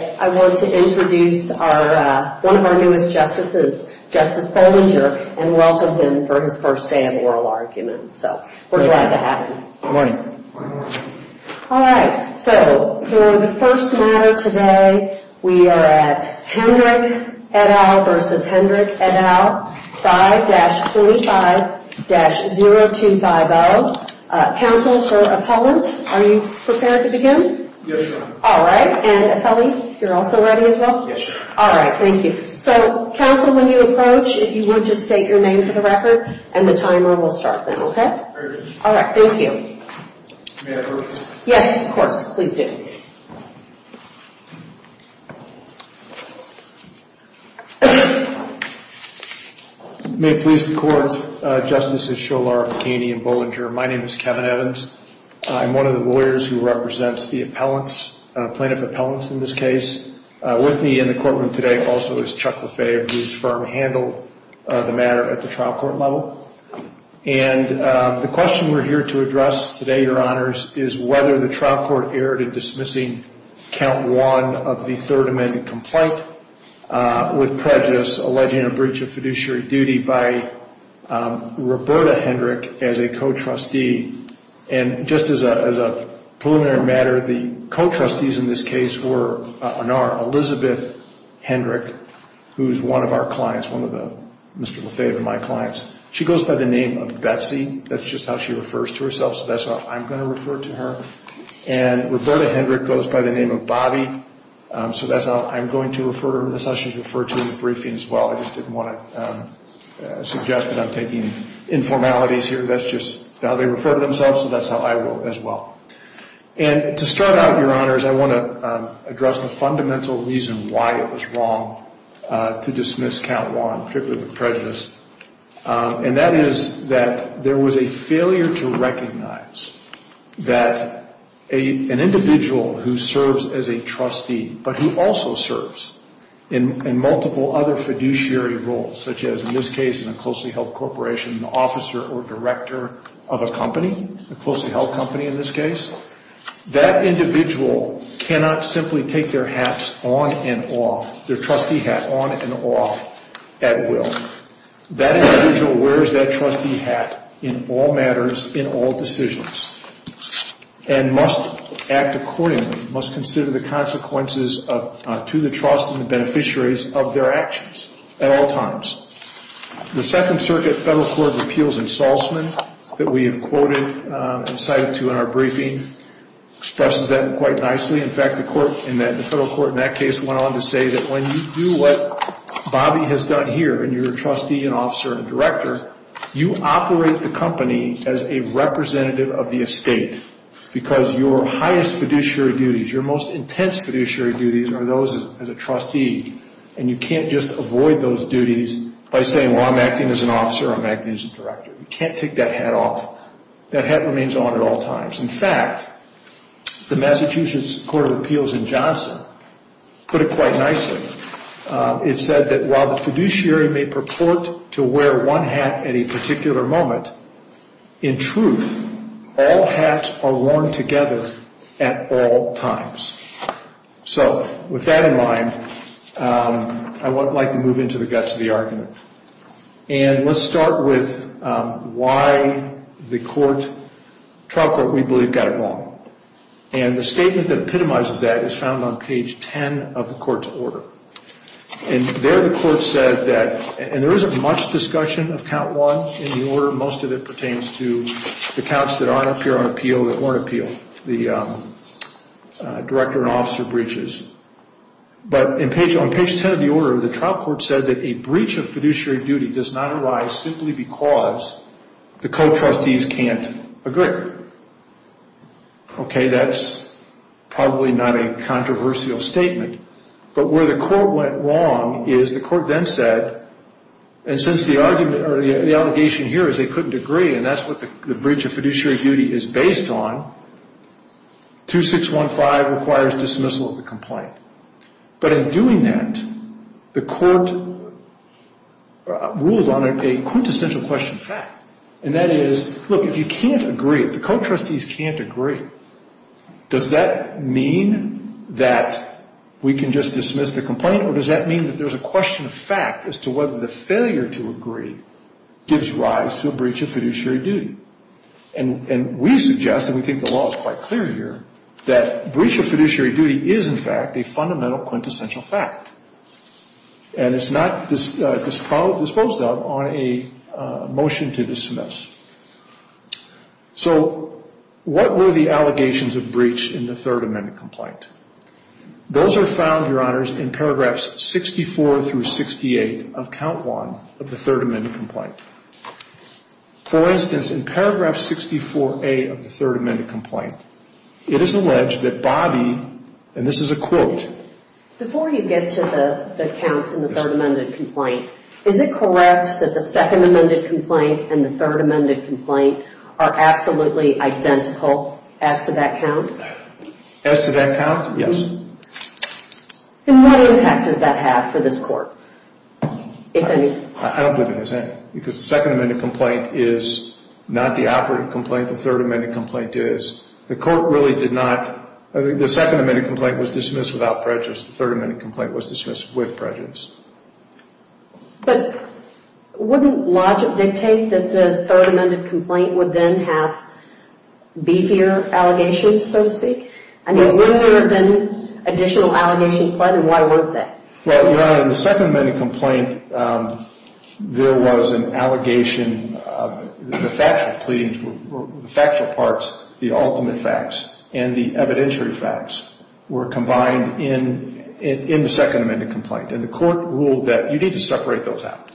I want to introduce one of our newest justices, Justice Bollinger, and welcome him for his first day of oral argument. So, we're glad to have him. Good morning. Alright, so, for the first matter today, we are at Hendrick et al. v. Hendrick et al. 5-45-0250. Counsel for Appellant, are you prepared to begin? Yes, Your Honor. Alright, and appellee, you're also ready as well? Yes, Your Honor. Alright, thank you. So, counsel, when you approach, if you would, just state your name for the record, and the timer will start then, okay? Very good. Alright, thank you. May I approach? Yes, of course. Please do. May it please the Court, Justices Sholar, McKaney, and Bollinger, my name is Kevin Evans. I'm one of the lawyers who represents the appellants, plaintiff appellants in this case. With me in the courtroom today also is Chuck Lefebvre, whose firm handled the matter at the trial court level. And the question we're here to address today, Your Honors, is whether the trial court erred in dismissing Count 1 of the Third Amendment complaint. With prejudice, alleging a breach of fiduciary duty by Roberta Hendrick as a co-trustee. And just as a preliminary matter, the co-trustees in this case were on our Elizabeth Hendrick, who is one of our clients, one of Mr. Lefebvre and my clients. She goes by the name of Betsy, that's just how she refers to herself, so that's how I'm going to refer to her. And Roberta Hendrick goes by the name of Bobby, so that's how I'm going to refer to her. That's how she's referred to in the briefing as well. I just didn't want to suggest that I'm taking informalities here. That's just how they refer to themselves, so that's how I will as well. And to start out, Your Honors, I want to address the fundamental reason why it was wrong to dismiss Count 1, particularly with prejudice. And that is that there was a failure to recognize that an individual who serves as a trustee, but who also serves in multiple other fiduciary roles, such as in this case in a closely held corporation, an officer or director of a company, a closely held company in this case, that individual cannot simply take their hats on and off, their trustee hat on and off at will. That individual wears that trustee hat in all matters, in all decisions, and must act accordingly, must consider the consequences to the trust and the beneficiaries of their actions at all times. The Second Circuit Federal Court of Appeals Insultment that we have quoted and cited to in our briefing expresses that quite nicely. In fact, the federal court in that case went on to say that when you do what Bobby has done here, and you're a trustee, an officer, and a director, you operate the company as a representative of the estate. Because your highest fiduciary duties, your most intense fiduciary duties, are those as a trustee. And you can't just avoid those duties by saying, well, I'm acting as an officer, I'm acting as a director. You can't take that hat off. That hat remains on at all times. In fact, the Massachusetts Court of Appeals in Johnson put it quite nicely. It said that while the fiduciary may purport to wear one hat at a particular moment, in truth, all hats are worn together at all times. So with that in mind, I would like to move into the guts of the argument. And let's start with why the trial court, we believe, got it wrong. And the statement that epitomizes that is found on page 10 of the court's order. And there the court said that, and there isn't much discussion of count one in the order. Most of it pertains to the counts that aren't appear on appeal that weren't appealed. The director and officer breaches. But on page 10 of the order, the trial court said that a breach of fiduciary duty does not arise simply because the co-trustees can't agree. Okay, that's probably not a controversial statement. But where the court went wrong is the court then said, and since the argument or the allegation here is they couldn't agree, and that's what the breach of fiduciary duty is based on, 2615 requires dismissal of the complaint. But in doing that, the court ruled on a quintessential question of fact. And that is, look, if you can't agree, if the co-trustees can't agree, does that mean that we can just dismiss the complaint? Or does that mean that there's a question of fact as to whether the failure to agree gives rise to a breach of fiduciary duty? And we suggest, and we think the law is quite clear here, that breach of fiduciary duty is, in fact, a fundamental quintessential fact. And it's not disposed of on a motion to dismiss. So what were the allegations of breach in the Third Amendment complaint? Those are found, Your Honors, in paragraphs 64 through 68 of Count 1 of the Third Amendment complaint. For instance, in paragraph 64A of the Third Amendment complaint, it is alleged that Bobby, and this is a quote. Before you get to the counts in the Third Amendment complaint, is it correct that the Second Amendment complaint and the Third Amendment complaint are absolutely identical as to that count? As to that count? Yes. And what impact does that have for this Court? I don't believe it has any. Because the Second Amendment complaint is not the operative complaint. The Third Amendment complaint is. The Court really did not. The Second Amendment complaint was dismissed without prejudice. The Third Amendment complaint was dismissed with prejudice. But wouldn't logic dictate that the Third Amendment complaint would then have beefier allegations, so to speak? I mean, wouldn't there have been additional allegations put, and why weren't there? Well, Your Honor, in the Second Amendment complaint, there was an allegation. The factual parts, the ultimate facts, and the evidentiary facts were combined in the Second Amendment complaint. And the Court ruled that you need to separate those out.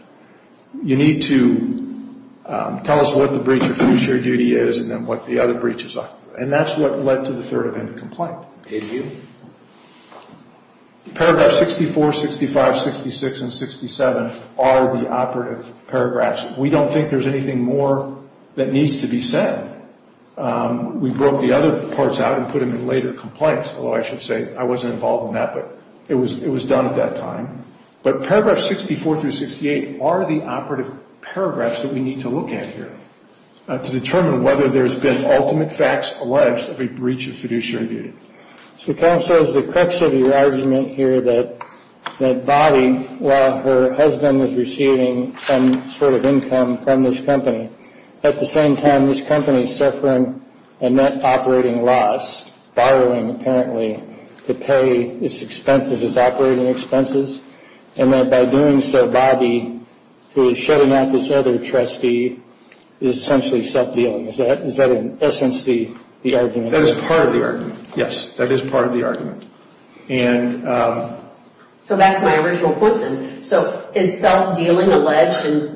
You need to tell us what the breach of fiduciary duty is and then what the other breaches are. And that's what led to the Third Amendment complaint. Did you? Paragraphs 64, 65, 66, and 67 are the operative paragraphs. We don't think there's anything more that needs to be said. We broke the other parts out and put them in later complaints. Although I should say I wasn't involved in that, but it was done at that time. But Paragraphs 64 through 68 are the operative paragraphs that we need to look at here to determine whether there's been ultimate facts alleged of a breach of fiduciary duty. So Ken says the crux of your argument here that Bobby, while her husband was receiving some sort of income from this company, at the same time this company is suffering a net operating loss, borrowing apparently, to pay its operating expenses. And that by doing so, Bobby, who is shutting out this other trustee, is essentially self-dealing. Is that in essence the argument? That is part of the argument. Yes, that is part of the argument. So back to my original point then. So his self-dealing alleged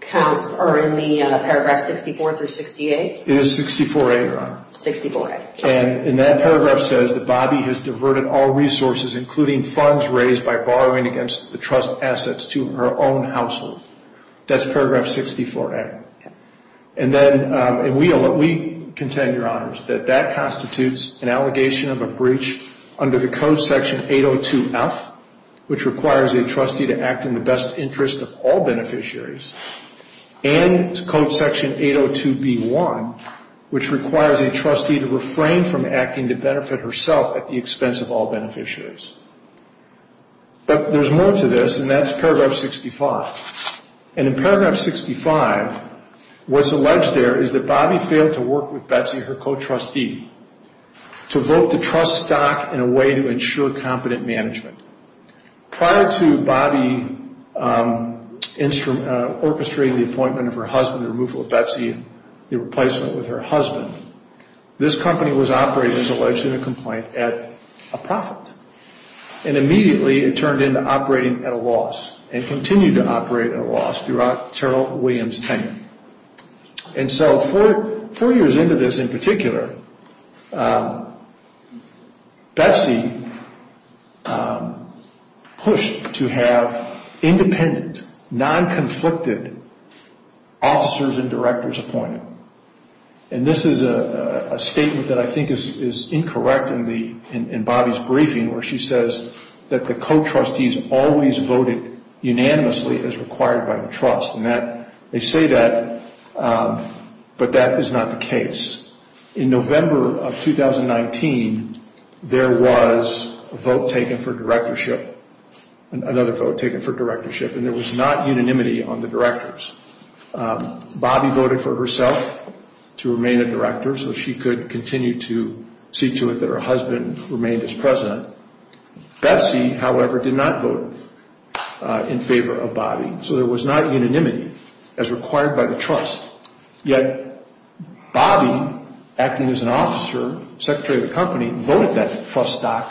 counts are in the Paragraphs 64 through 68? It is 64A, Your Honor. 64A. And that paragraph says that Bobby has diverted all resources, including funds raised by borrowing against the trust assets, to her own household. That's Paragraph 64A. And then we contend, Your Honors, that that constitutes an allegation of a breach under the Code Section 802F, which requires a trustee to act in the best interest of all beneficiaries, and Code Section 802B1, which requires a trustee to refrain from acting to benefit herself at the expense of all beneficiaries. But there's more to this, and that's Paragraph 65. And in Paragraph 65, what's alleged there is that Bobby failed to work with Betsy, her co-trustee, to vote the trust stock in a way to ensure competent management. Prior to Bobby orchestrating the appointment of her husband, the removal of Betsy, the replacement with her husband, this company was operating, as alleged in the complaint, at a profit. And immediately it turned into operating at a loss, and continued to operate at a loss throughout Terrell Williams' tenure. And so four years into this in particular, Betsy pushed to have independent, non-conflicted officers and directors appointed. And this is a statement that I think is incorrect in Bobby's briefing, where she says that the co-trustees always voted unanimously as required by the trust. And they say that, but that is not the case. In November of 2019, there was a vote taken for directorship, another vote taken for directorship, and there was not unanimity on the directors. Bobby voted for herself to remain a director so she could continue to see to it that her husband remained as president. Betsy, however, did not vote in favor of Bobby. So there was not unanimity as required by the trust. Yet Bobby, acting as an officer, secretary of the company, voted that trust stock,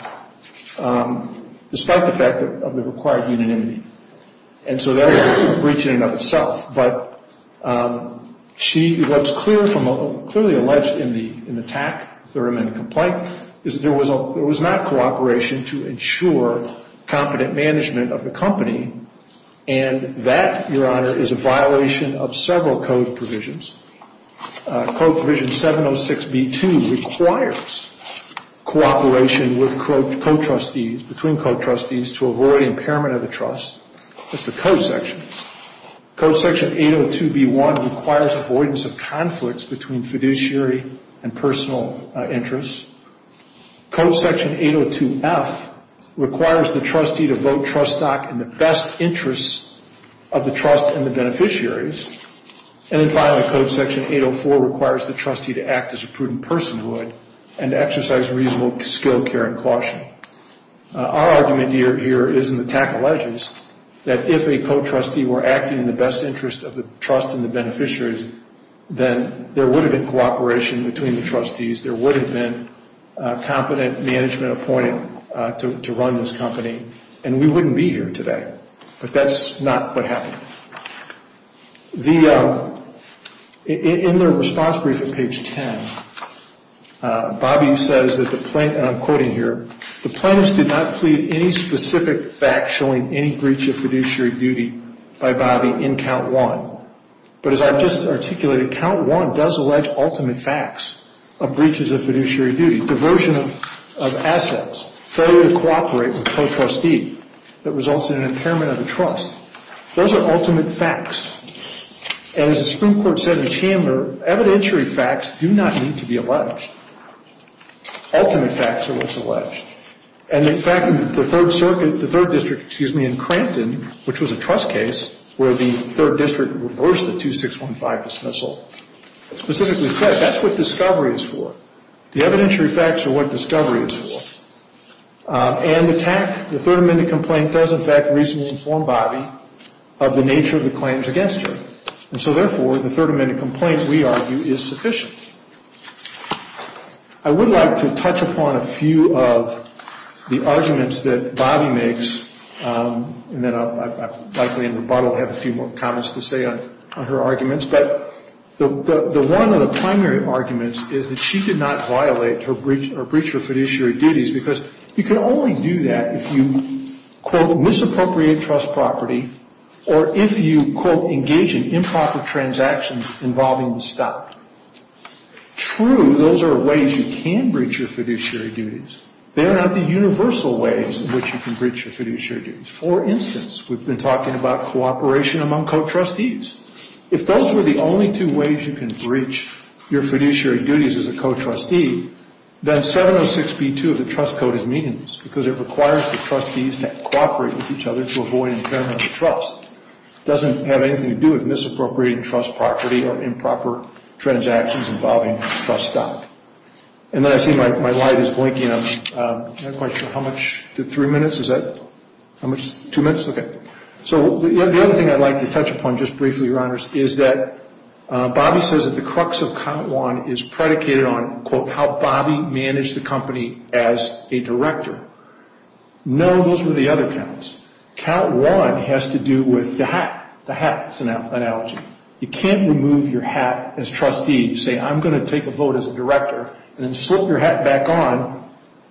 despite the fact of the required unanimity. And so that was a breach in and of itself. But what's clearly alleged in the TAC, Thurman complaint, is there was not cooperation to ensure competent management of the company, and that, Your Honor, is a violation of several code provisions. Code provision 706B2 requires cooperation with co-trustees, between co-trustees, to avoid impairment of the trust. That's the code section. Code section 802B1 requires avoidance of conflicts between fiduciary and personal interests. Code section 802F requires the trustee to vote trust stock in the best interest of the trust and the beneficiaries. And then finally, code section 804 requires the trustee to act as a prudent person would and to exercise reasonable skill, care, and caution. Our argument here is in the TAC alleges that if a co-trustee were acting in the best interest of the trust and the beneficiaries, then there would have been cooperation between the trustees. There would have been competent management appointed to run this company, and we wouldn't be here today. But that's not what happened. In the response brief at page 10, Bobby says that the plaintiff, and I'm quoting here, the plaintiffs did not plead any specific fact showing any breach of fiduciary duty by Bobby in count one. But as I've just articulated, count one does allege ultimate facts of breaches of fiduciary duty, diversion of assets, failure to cooperate with a co-trustee that results in an impairment of the trust. Those are ultimate facts. And as the Supreme Court said in the chamber, evidentiary facts do not need to be alleged. Ultimate facts are what's alleged. And in fact, the Third Circuit, the Third District, excuse me, in Crampton, which was a trust case where the Third District reversed the 2615 dismissal, specifically said that's what discovery is for. The evidentiary facts are what discovery is for. And the TAC, the Third Amendment complaint, does in fact reasonably inform Bobby of the nature of the claims against him. And so therefore, the Third Amendment complaint, we argue, is sufficient. I would like to touch upon a few of the arguments that Bobby makes, and then I'll likely in rebuttal have a few more comments to say on her arguments. But the one of the primary arguments is that she did not violate or breach her fiduciary duties because you can only do that if you, quote, misappropriate trust property or if you, quote, engage in improper transactions involving the stock. True, those are ways you can breach your fiduciary duties. They're not the universal ways in which you can breach your fiduciary duties. For instance, we've been talking about cooperation among co-trustees. If those were the only two ways you can breach your fiduciary duties as a co-trustee, then 706B2 of the trust code is meaningless because it requires the trustees to cooperate with each other to avoid impairment of trust. It doesn't have anything to do with misappropriating trust property or improper transactions involving the trust stock. And then I see my light is blinking. I'm not quite sure how much to three minutes. Is that how much? Two minutes? Okay. So the other thing I'd like to touch upon just briefly, Your Honors, is that Bobby says that the crux of count one is predicated on, quote, how Bobby managed the company as a director. No, those were the other counts. Count one has to do with the hat, the hat analogy. You can't remove your hat as trustee and say I'm going to take a vote as a director and then slip your hat back on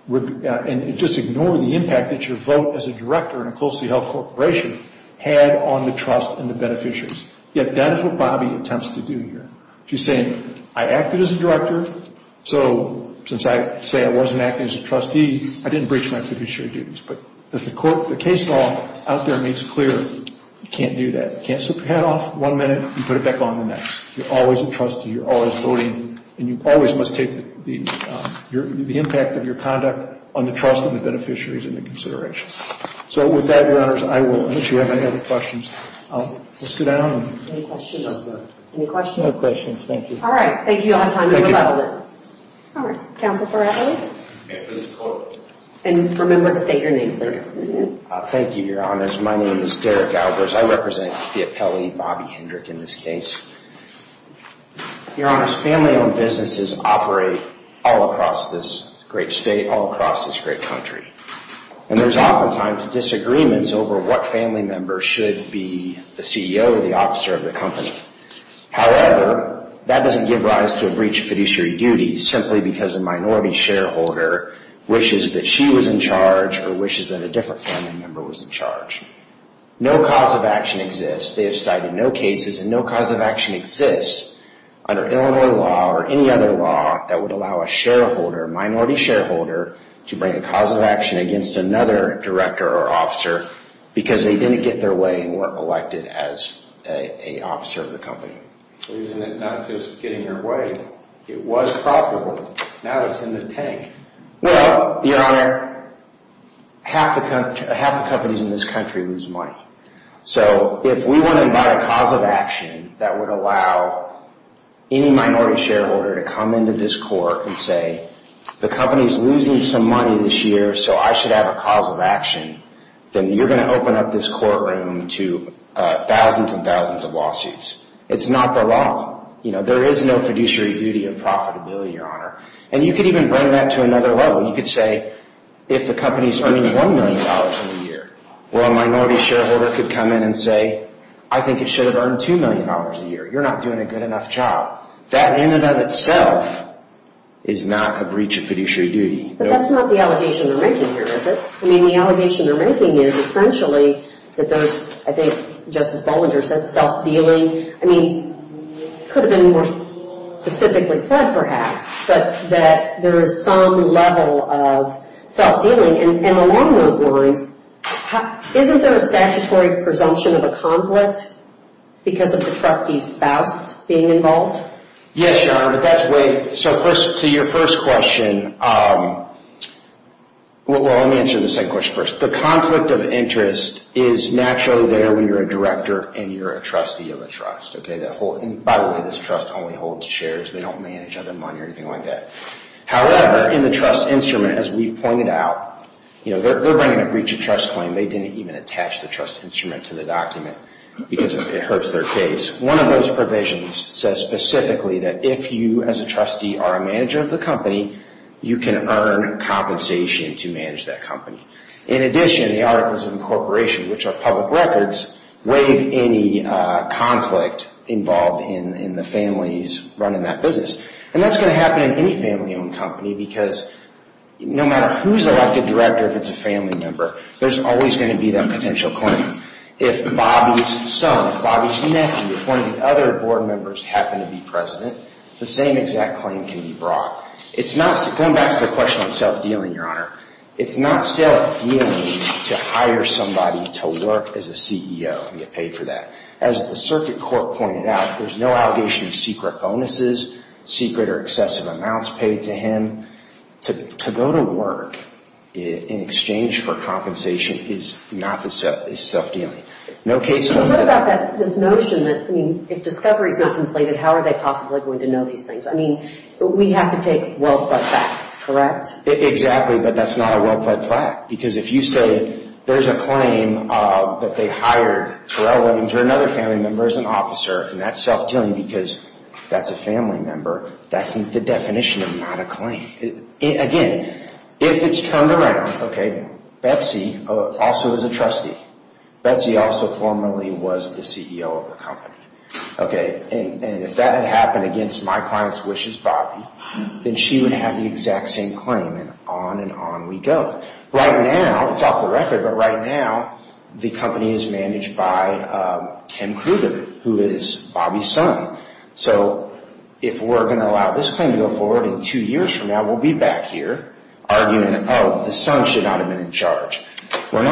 and just ignore the impact that your vote as a director in a closely held corporation had on the trust and the beneficiaries. Yet that is what Bobby attempts to do here. She's saying I acted as a director, so since I say I wasn't acting as a trustee, I didn't breach my fiduciary duties. But the case law out there makes clear you can't do that. You can't slip your hat off one minute and put it back on the next. You're always a trustee. You're always voting. And you always must take the impact of your conduct on the trust of the beneficiaries into consideration. So with that, Your Honors, I will issue if I have any questions. We'll sit down. Any questions? Any questions? No questions. Thank you. All right. Thank you. I'll have time to rebuttal it. All right. Counsel for Adler. And remember to state your name, please. Thank you, Your Honors. My name is Derek Adler. I represent the appellee, Bobby Hendrick, in this case. Your Honors, family-owned businesses operate all across this great state, all across this great country. And there's oftentimes disagreements over what family member should be the CEO or the officer of the company. However, that doesn't give rise to a breach of fiduciary duties simply because a minority shareholder wishes that she was in charge or wishes that a different family member was in charge. No cause of action exists. They have cited no cases, and no cause of action exists under Illinois law or any other law that would allow a shareholder, a minority shareholder, to bring a cause of action against another director or officer because they didn't get their way and weren't elected as an officer of the company. Not just getting their way. It was profitable. Now it's in the tank. Well, Your Honor, half the companies in this country lose money. So if we want to invite a cause of action that would allow any minority shareholder to come into this court and say, the company's losing some money this year so I should have a cause of action, then you're going to open up this courtroom to thousands and thousands of lawsuits. It's not the law. There is no fiduciary duty of profitability, Your Honor. And you could even bring that to another level. You could say, if the company's earning $1 million a year, well, a minority shareholder could come in and say, I think it should have earned $2 million a year. You're not doing a good enough job. That in and of itself is not a breach of fiduciary duty. But that's not the allegation they're making here, is it? I mean, the allegation they're making is essentially that there's, I think Justice Bollinger said, self-dealing. I mean, it could have been more specifically said, perhaps, but that there is some level of self-dealing. And along those lines, isn't there a statutory presumption of a conflict because of the trustee's spouse being involved? Yes, Your Honor, but that's where – so your first question – well, let me answer the second question first. The conflict of interest is naturally there when you're a director and you're a trustee of a trust. By the way, this trust only holds shares. They don't manage other money or anything like that. However, in the trust instrument, as we've pointed out, they're bringing a breach of trust claim. They didn't even attach the trust instrument to the document because it hurts their case. One of those provisions says specifically that if you, as a trustee, are a manager of the company, you can earn compensation to manage that company. In addition, the Articles of Incorporation, which are public records, waive any conflict involved in the family's running that business. And that's going to happen in any family-owned company because no matter who's elected director, if it's a family member, there's always going to be that potential claim. If Bobby's son, if Bobby's nephew, if one of the other board members happen to be president, the same exact claim can be brought. It's not – going back to the question on self-dealing, Your Honor – it's not self-dealing to hire somebody to work as a CEO and get paid for that. As the circuit court pointed out, there's no allegation of secret bonuses, secret or excessive amounts paid to him. To go to work in exchange for compensation is not self-dealing. No case – But what about this notion that, I mean, if discovery's not completed, how are they possibly going to know these things? I mean, we have to take well-pled facts, correct? Exactly, but that's not a well-pled fact. Because if you say there's a claim that they hired Terrell Williams or another family member as an officer, and that's self-dealing because that's a family member, that's the definition of not a claim. Again, if it's turned around, okay, Betsy also is a trustee. Betsy also formerly was the CEO of the company. Okay, and if that had happened against my client's wishes, Bobby, then she would have the exact same claim, and on and on we go. Right now, it's off the record, but right now, the company is managed by Tim Kruger, who is Bobby's son. So if we're going to allow this claim to go forward, in two years from now we'll be back here arguing, oh, this son should not have been in charge. We're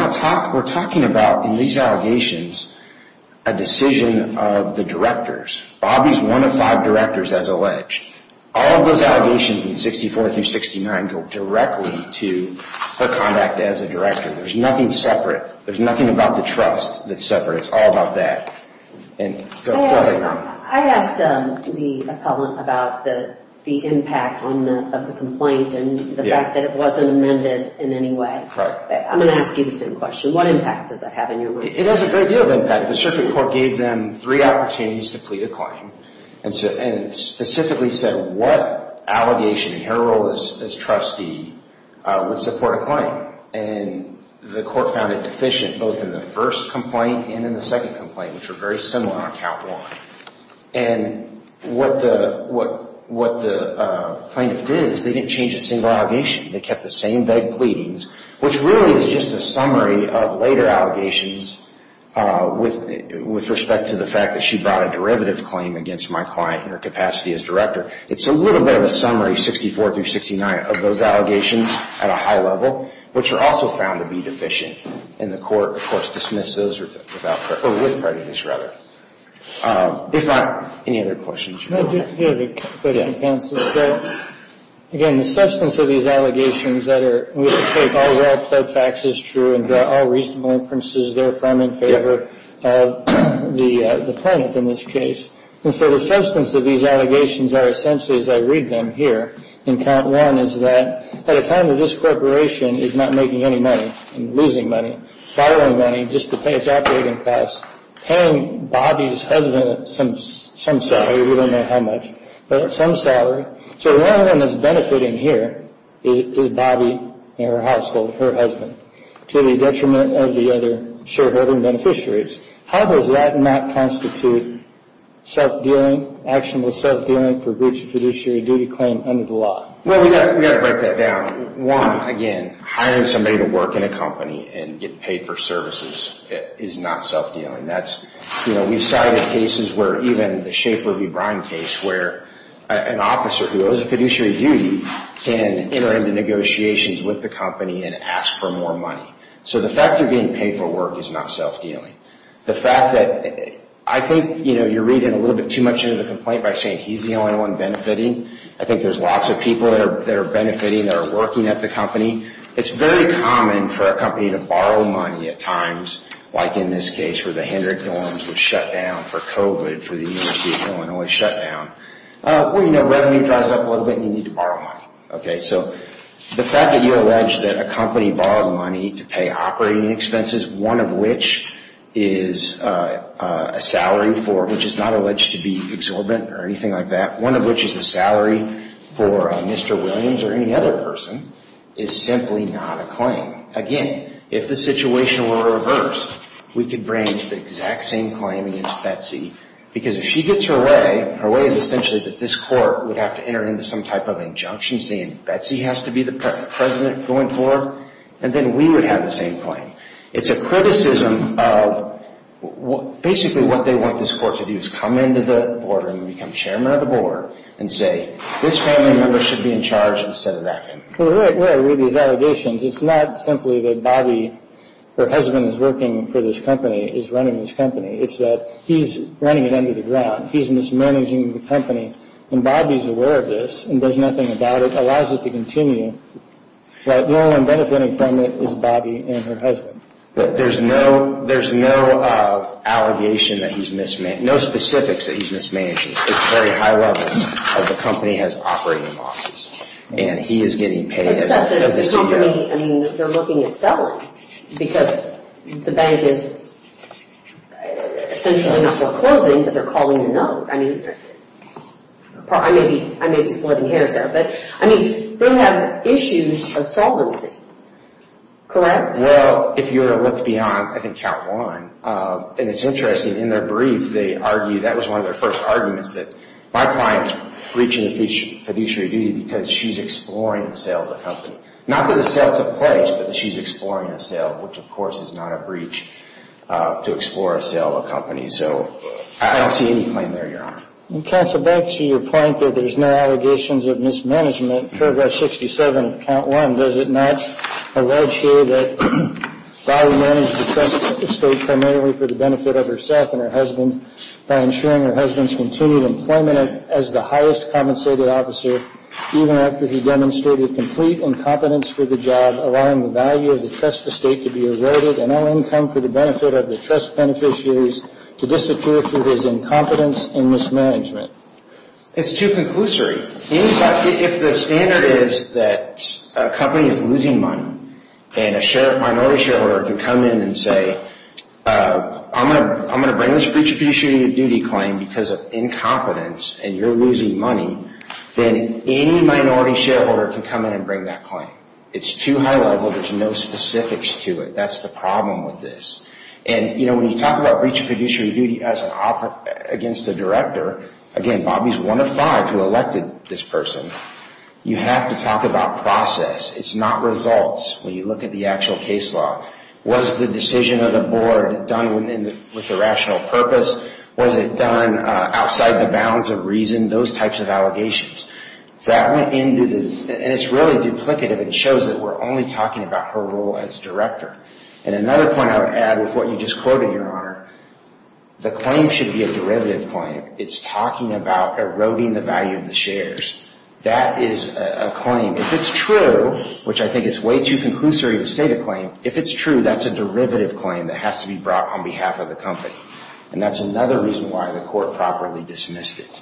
talking about, in these allegations, a decision of the directors. Bobby's one of five directors, as alleged. All of those allegations in 64 through 69 go directly to her conduct as a director. There's nothing separate. There's nothing about the trust that's separate. It's all about that. Go ahead. I asked the appellant about the impact of the complaint and the fact that it wasn't amended in any way. I'm going to ask you the same question. What impact does that have on your lawyer? It has a great deal of impact. The circuit court gave them three opportunities to plead a claim and specifically said what allegation in her role as trustee would support a claim. And the court found it deficient both in the first complaint and in the second complaint, which were very similar on count one. And what the plaintiff did is they didn't change a single allegation. They kept the same vague pleadings, which really is just a summary of later allegations with respect to the fact that she brought a derivative claim against my client in her capacity as director. It's a little bit of a summary, 64 through 69, of those allegations at a high level, which are also found to be deficient. And the court, of course, dismissed those with prejudice, rather. If not, any other questions? I do have a question, counsel. So, again, the substance of these allegations that are we take all well-pled facts as true and draw all reasonable inferences therefrom in favor of the plaintiff in this case. And so the substance of these allegations are essentially, as I read them here in count one, is that at a time when this corporation is not making any money and losing money, borrowing money just to pay its operating costs, paying Bobbie's husband some salary, we don't know how much, but some salary. So the only one that's benefiting here is Bobbie and her household, her husband, to the detriment of the other shareholding beneficiaries. How does that not constitute self-dealing, actionable self-dealing for breach of fiduciary duty claim under the law? Well, we've got to break that down. One, again, hiring somebody to work in a company and get paid for services is not self-dealing. That's, you know, we've cited cases where even the Schaefer v. Brine case where an officer who owes a fiduciary duty can enter into negotiations with the company and ask for more money. So the fact you're getting paid for work is not self-dealing. The fact that I think, you know, you're reading a little bit too much into the complaint by saying he's the only one benefiting. I think there's lots of people that are benefiting, that are working at the company. It's very common for a company to borrow money at times, like in this case, where the Hendrick dorms were shut down for COVID, for the University of Illinois shut down. Well, you know, revenue drives up a little bit and you need to borrow money. Okay, so the fact that you allege that a company borrowed money to pay operating expenses, one of which is a salary for, which is not alleged to be exorbitant or anything like that, one of which is a salary for Mr. Williams or any other person, is simply not a claim. Again, if the situation were reversed, we could bring the exact same claim against Betsy because if she gets her way, her way is essentially that this court would have to enter into some type of injunction saying Betsy has to be the president going forward, and then we would have the same claim. It's a criticism of basically what they want this court to do is come into the board and become chairman of the board and say this family member should be in charge instead of that family member. Well, where are we with these allegations? It's not simply that Bobby, her husband, is working for this company, is running this company. It's that he's running it under the ground. He's mismanaging the company. And Bobby's aware of this and does nothing about it, allows it to continue, but the only one benefiting from it is Bobby and her husband. There's no allegation that he's mismanaged, no specifics that he's mismanaged. It's very high level that the company has operating losses and he is getting paid. Except that the company, I mean, they're looking at selling because the bank is essentially not foreclosing, but they're calling a note. I mean, I may be splitting hairs there, but, I mean, they have issues of solvency. Correct? Well, if you were to look beyond, I think, count one, and it's interesting, in their brief they argue that was one of their first arguments, that my client's breaching the fiduciary duty because she's exploring the sale of the company. Not that the sale took place, but that she's exploring the sale, which, of course, is not a breach to explore a sale of a company. So I don't see any claim there, Your Honor. Counsel, back to your point that there's no allegations of mismanagement, paragraph 67 of count one, does it not allege here that Bobby managed the company at this stage primarily for the benefit of herself and her husband by ensuring her husband's continued employment as the highest compensated officer even after he demonstrated complete incompetence for the job, allowing the value of the trust estate to be averted and all income for the benefit of the trust beneficiaries to disappear through his incompetence and mismanagement? It's too conclusory. If the standard is that a company is losing money and a minority shareholder can come in and say, I'm going to bring this breach of fiduciary duty claim because of incompetence, and you're losing money, then any minority shareholder can come in and bring that claim. It's too high level. There's no specifics to it. That's the problem with this. And, you know, when you talk about breach of fiduciary duty against a director, again, Bobby's one of five who elected this person. You have to talk about process. It's not results when you look at the actual case law. Was the decision of the board done with a rational purpose? Was it done outside the bounds of reason? Those types of allegations. That went into the, and it's really duplicative. It shows that we're only talking about her role as director. And another point I would add with what you just quoted, Your Honor, the claim should be a derivative claim. It's talking about eroding the value of the shares. That is a claim. If it's true, which I think is way too conclusory to state a claim, if it's true, that's a derivative claim that has to be brought on behalf of the company. And that's another reason why the court properly dismissed it.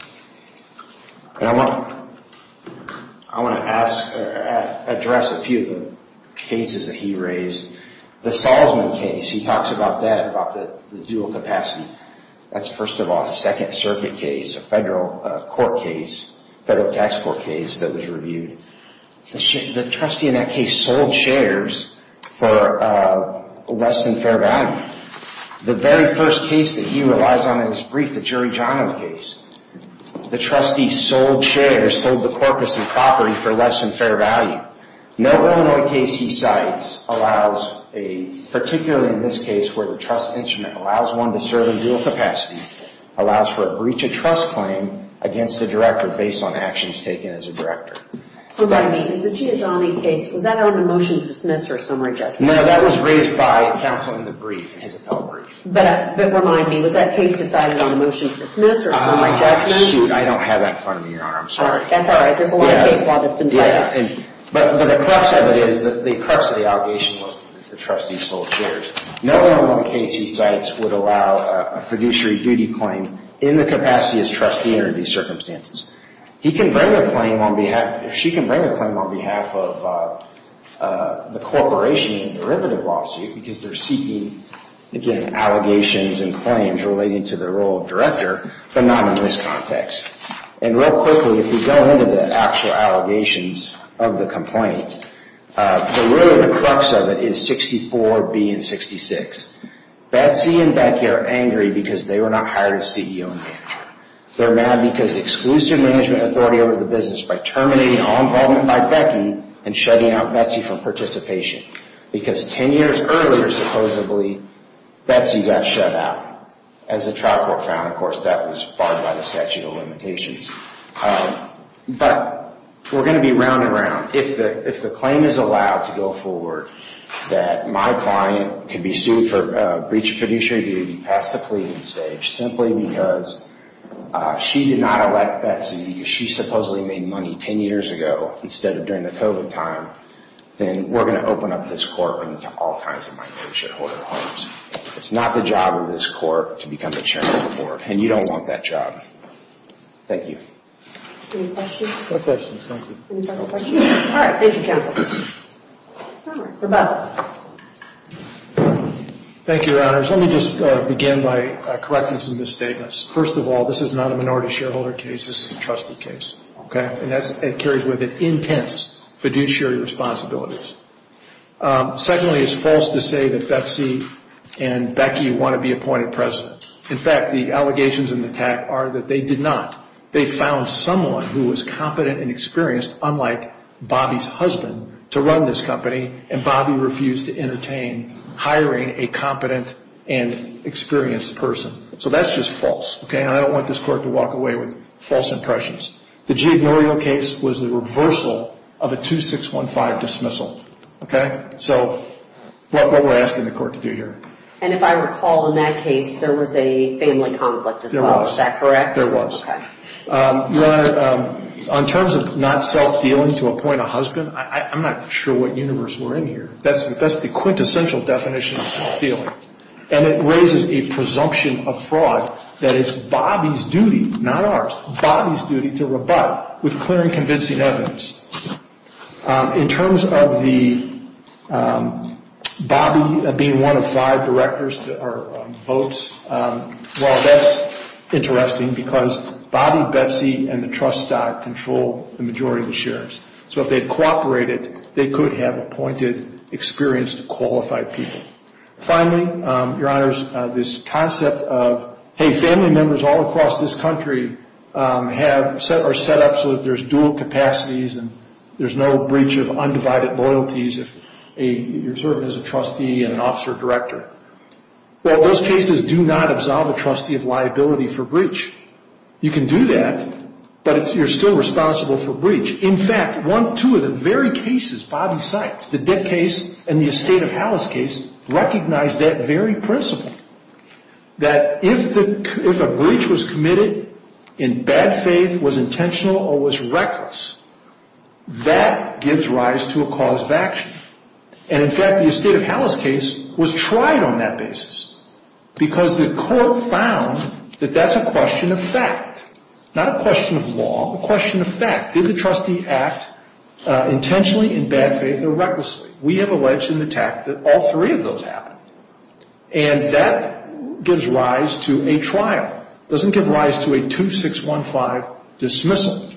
And I want to address a few of the cases that he raised. The Salzman case, he talks about that, about the dual capacity. That's, first of all, a Second Circuit case, a federal court case, federal tax court case that was reviewed. The trustee in that case sold shares for less than fair value. The very first case that he relies on in his brief, the Giorgiano case, the trustee sold shares, sold the corpus and property for less than fair value. No Illinois case he cites allows a, particularly in this case where the trust instrument allows one to serve in dual capacity, allows for a breach of trust claim against the director based on actions taken as a director. What I mean is the Giorgiano case, was that on the motion to dismiss or summary judgment? No, that was raised by counsel in the brief, in his appellate brief. But remind me, was that case decided on a motion to dismiss or summary judgment? Shoot, I don't have that in front of me, Your Honor. I'm sorry. That's all right. There's a lot of case law that's been cited. Yeah, but the crux of it is, the crux of the allegation was that the trustee sold shares. No Illinois case he cites would allow a fiduciary duty claim in the capacity as trustee under these circumstances. He can bring a claim on behalf, she can bring a claim on behalf of the corporation in a derivative lawsuit because they're seeking, again, allegations and claims relating to the role of director, but not in this context. And real quickly, if we go into the actual allegations of the complaint, the root or the crux of it is 64B and 66. Betsy and Becky are angry because they were not hired as CEO and manager. They're mad because exclusive management authority over the business by terminating all involvement by Becky and shutting out Betsy from participation. Because 10 years earlier, supposedly, Betsy got shut out. As the trial court found, of course, that was barred by the statute of limitations. But we're going to be round and round. If the claim is allowed to go forward, that my client can be sued for breach of fiduciary duty, pass the pleading stage, simply because she did not elect Betsy, she supposedly made money 10 years ago instead of during the COVID time, then we're going to open up this courtroom to all kinds of my fiduciary claims. It's not the job of this court to become the chairman of the board. And you don't want that job. Thank you. Any questions? No questions, thank you. Any final questions? All right, thank you, counsel. All right, Rebecca. Thank you, Your Honors. Let me just begin by correcting some misstatements. First of all, this is not a minority shareholder case. This is a trusted case. Okay? And that carries with it intense fiduciary responsibilities. Secondly, it's false to say that Betsy and Becky want to be appointed president. In fact, the allegations in the tag are that they did not. They found someone who was competent and experienced, unlike Bobby's husband, to run this company, and Bobby refused to entertain hiring a competent and experienced person. So that's just false. Okay? And I don't want this court to walk away with false impressions. The G. Ignorio case was the reversal of a 2615 dismissal. Okay? So what we're asking the court to do here. And if I recall, in that case, there was a family conflict as well. There was. Is that correct? There was. Okay. Your Honor, in terms of not self-dealing to appoint a husband, I'm not sure what universe we're in here. That's the quintessential definition of self-dealing. And it raises a presumption of fraud that it's Bobby's duty, not ours, Bobby's duty to rebut with clear and convincing evidence. In terms of the Bobby being one of five directors or votes, well, that's interesting because Bobby, Betsy, and the trust stock control the majority of the shares. So if they had cooperated, they could have appointed experienced, qualified people. Finally, Your Honors, this concept of, hey, family members all across this country are set up so that there's dual capacities and there's no breach of undivided loyalties if your servant is a trustee and an officer director. Well, those cases do not absolve a trustee of liability for breach. You can do that, but you're still responsible for breach. In fact, one, two of the very cases Bobby cites, the debt case and the estate of Hala's case, recognize that very principle, that if a breach was committed in bad faith, was intentional, or was reckless, that gives rise to a cause of action. And in fact, the estate of Hala's case was tried on that basis because the court found that that's a question of fact, not a question of law, a question of fact. Did the trustee act intentionally in bad faith or recklessly? We have alleged in the tact that all three of those happened. And that gives rise to a trial. It doesn't give rise to a 2615 dismissal.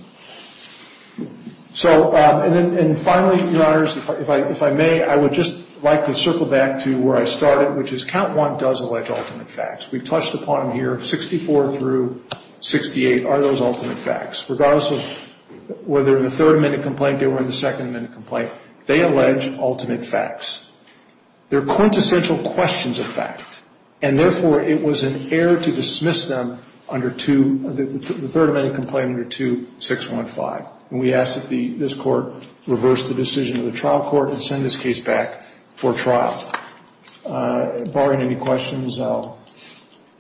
So, and then finally, Your Honors, if I may, I would just like to circle back to where I started, which is count one does allege ultimate facts. We've touched upon them here. 64 through 68 are those ultimate facts. Regardless of whether in the third amendment complaint or in the second amendment complaint, they allege ultimate facts. They're quintessential questions of fact. And therefore, it was an error to dismiss them under two, the third amendment complaint under 2615. And we ask that this court reverse the decision of the trial court and send this case back for trial. Barring any questions, I'll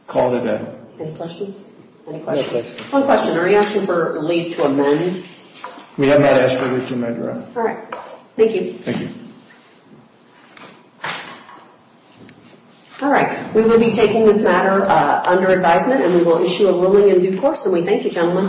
call it a day. Any questions? Any questions? One question. Are you asking for a leave to amend? We have not asked for leave to amend, Your Honor. All right. Thank you. Thank you. All right. We will be taking this matter under advisement, and we will issue a ruling in due course. And we thank you, gentlemen.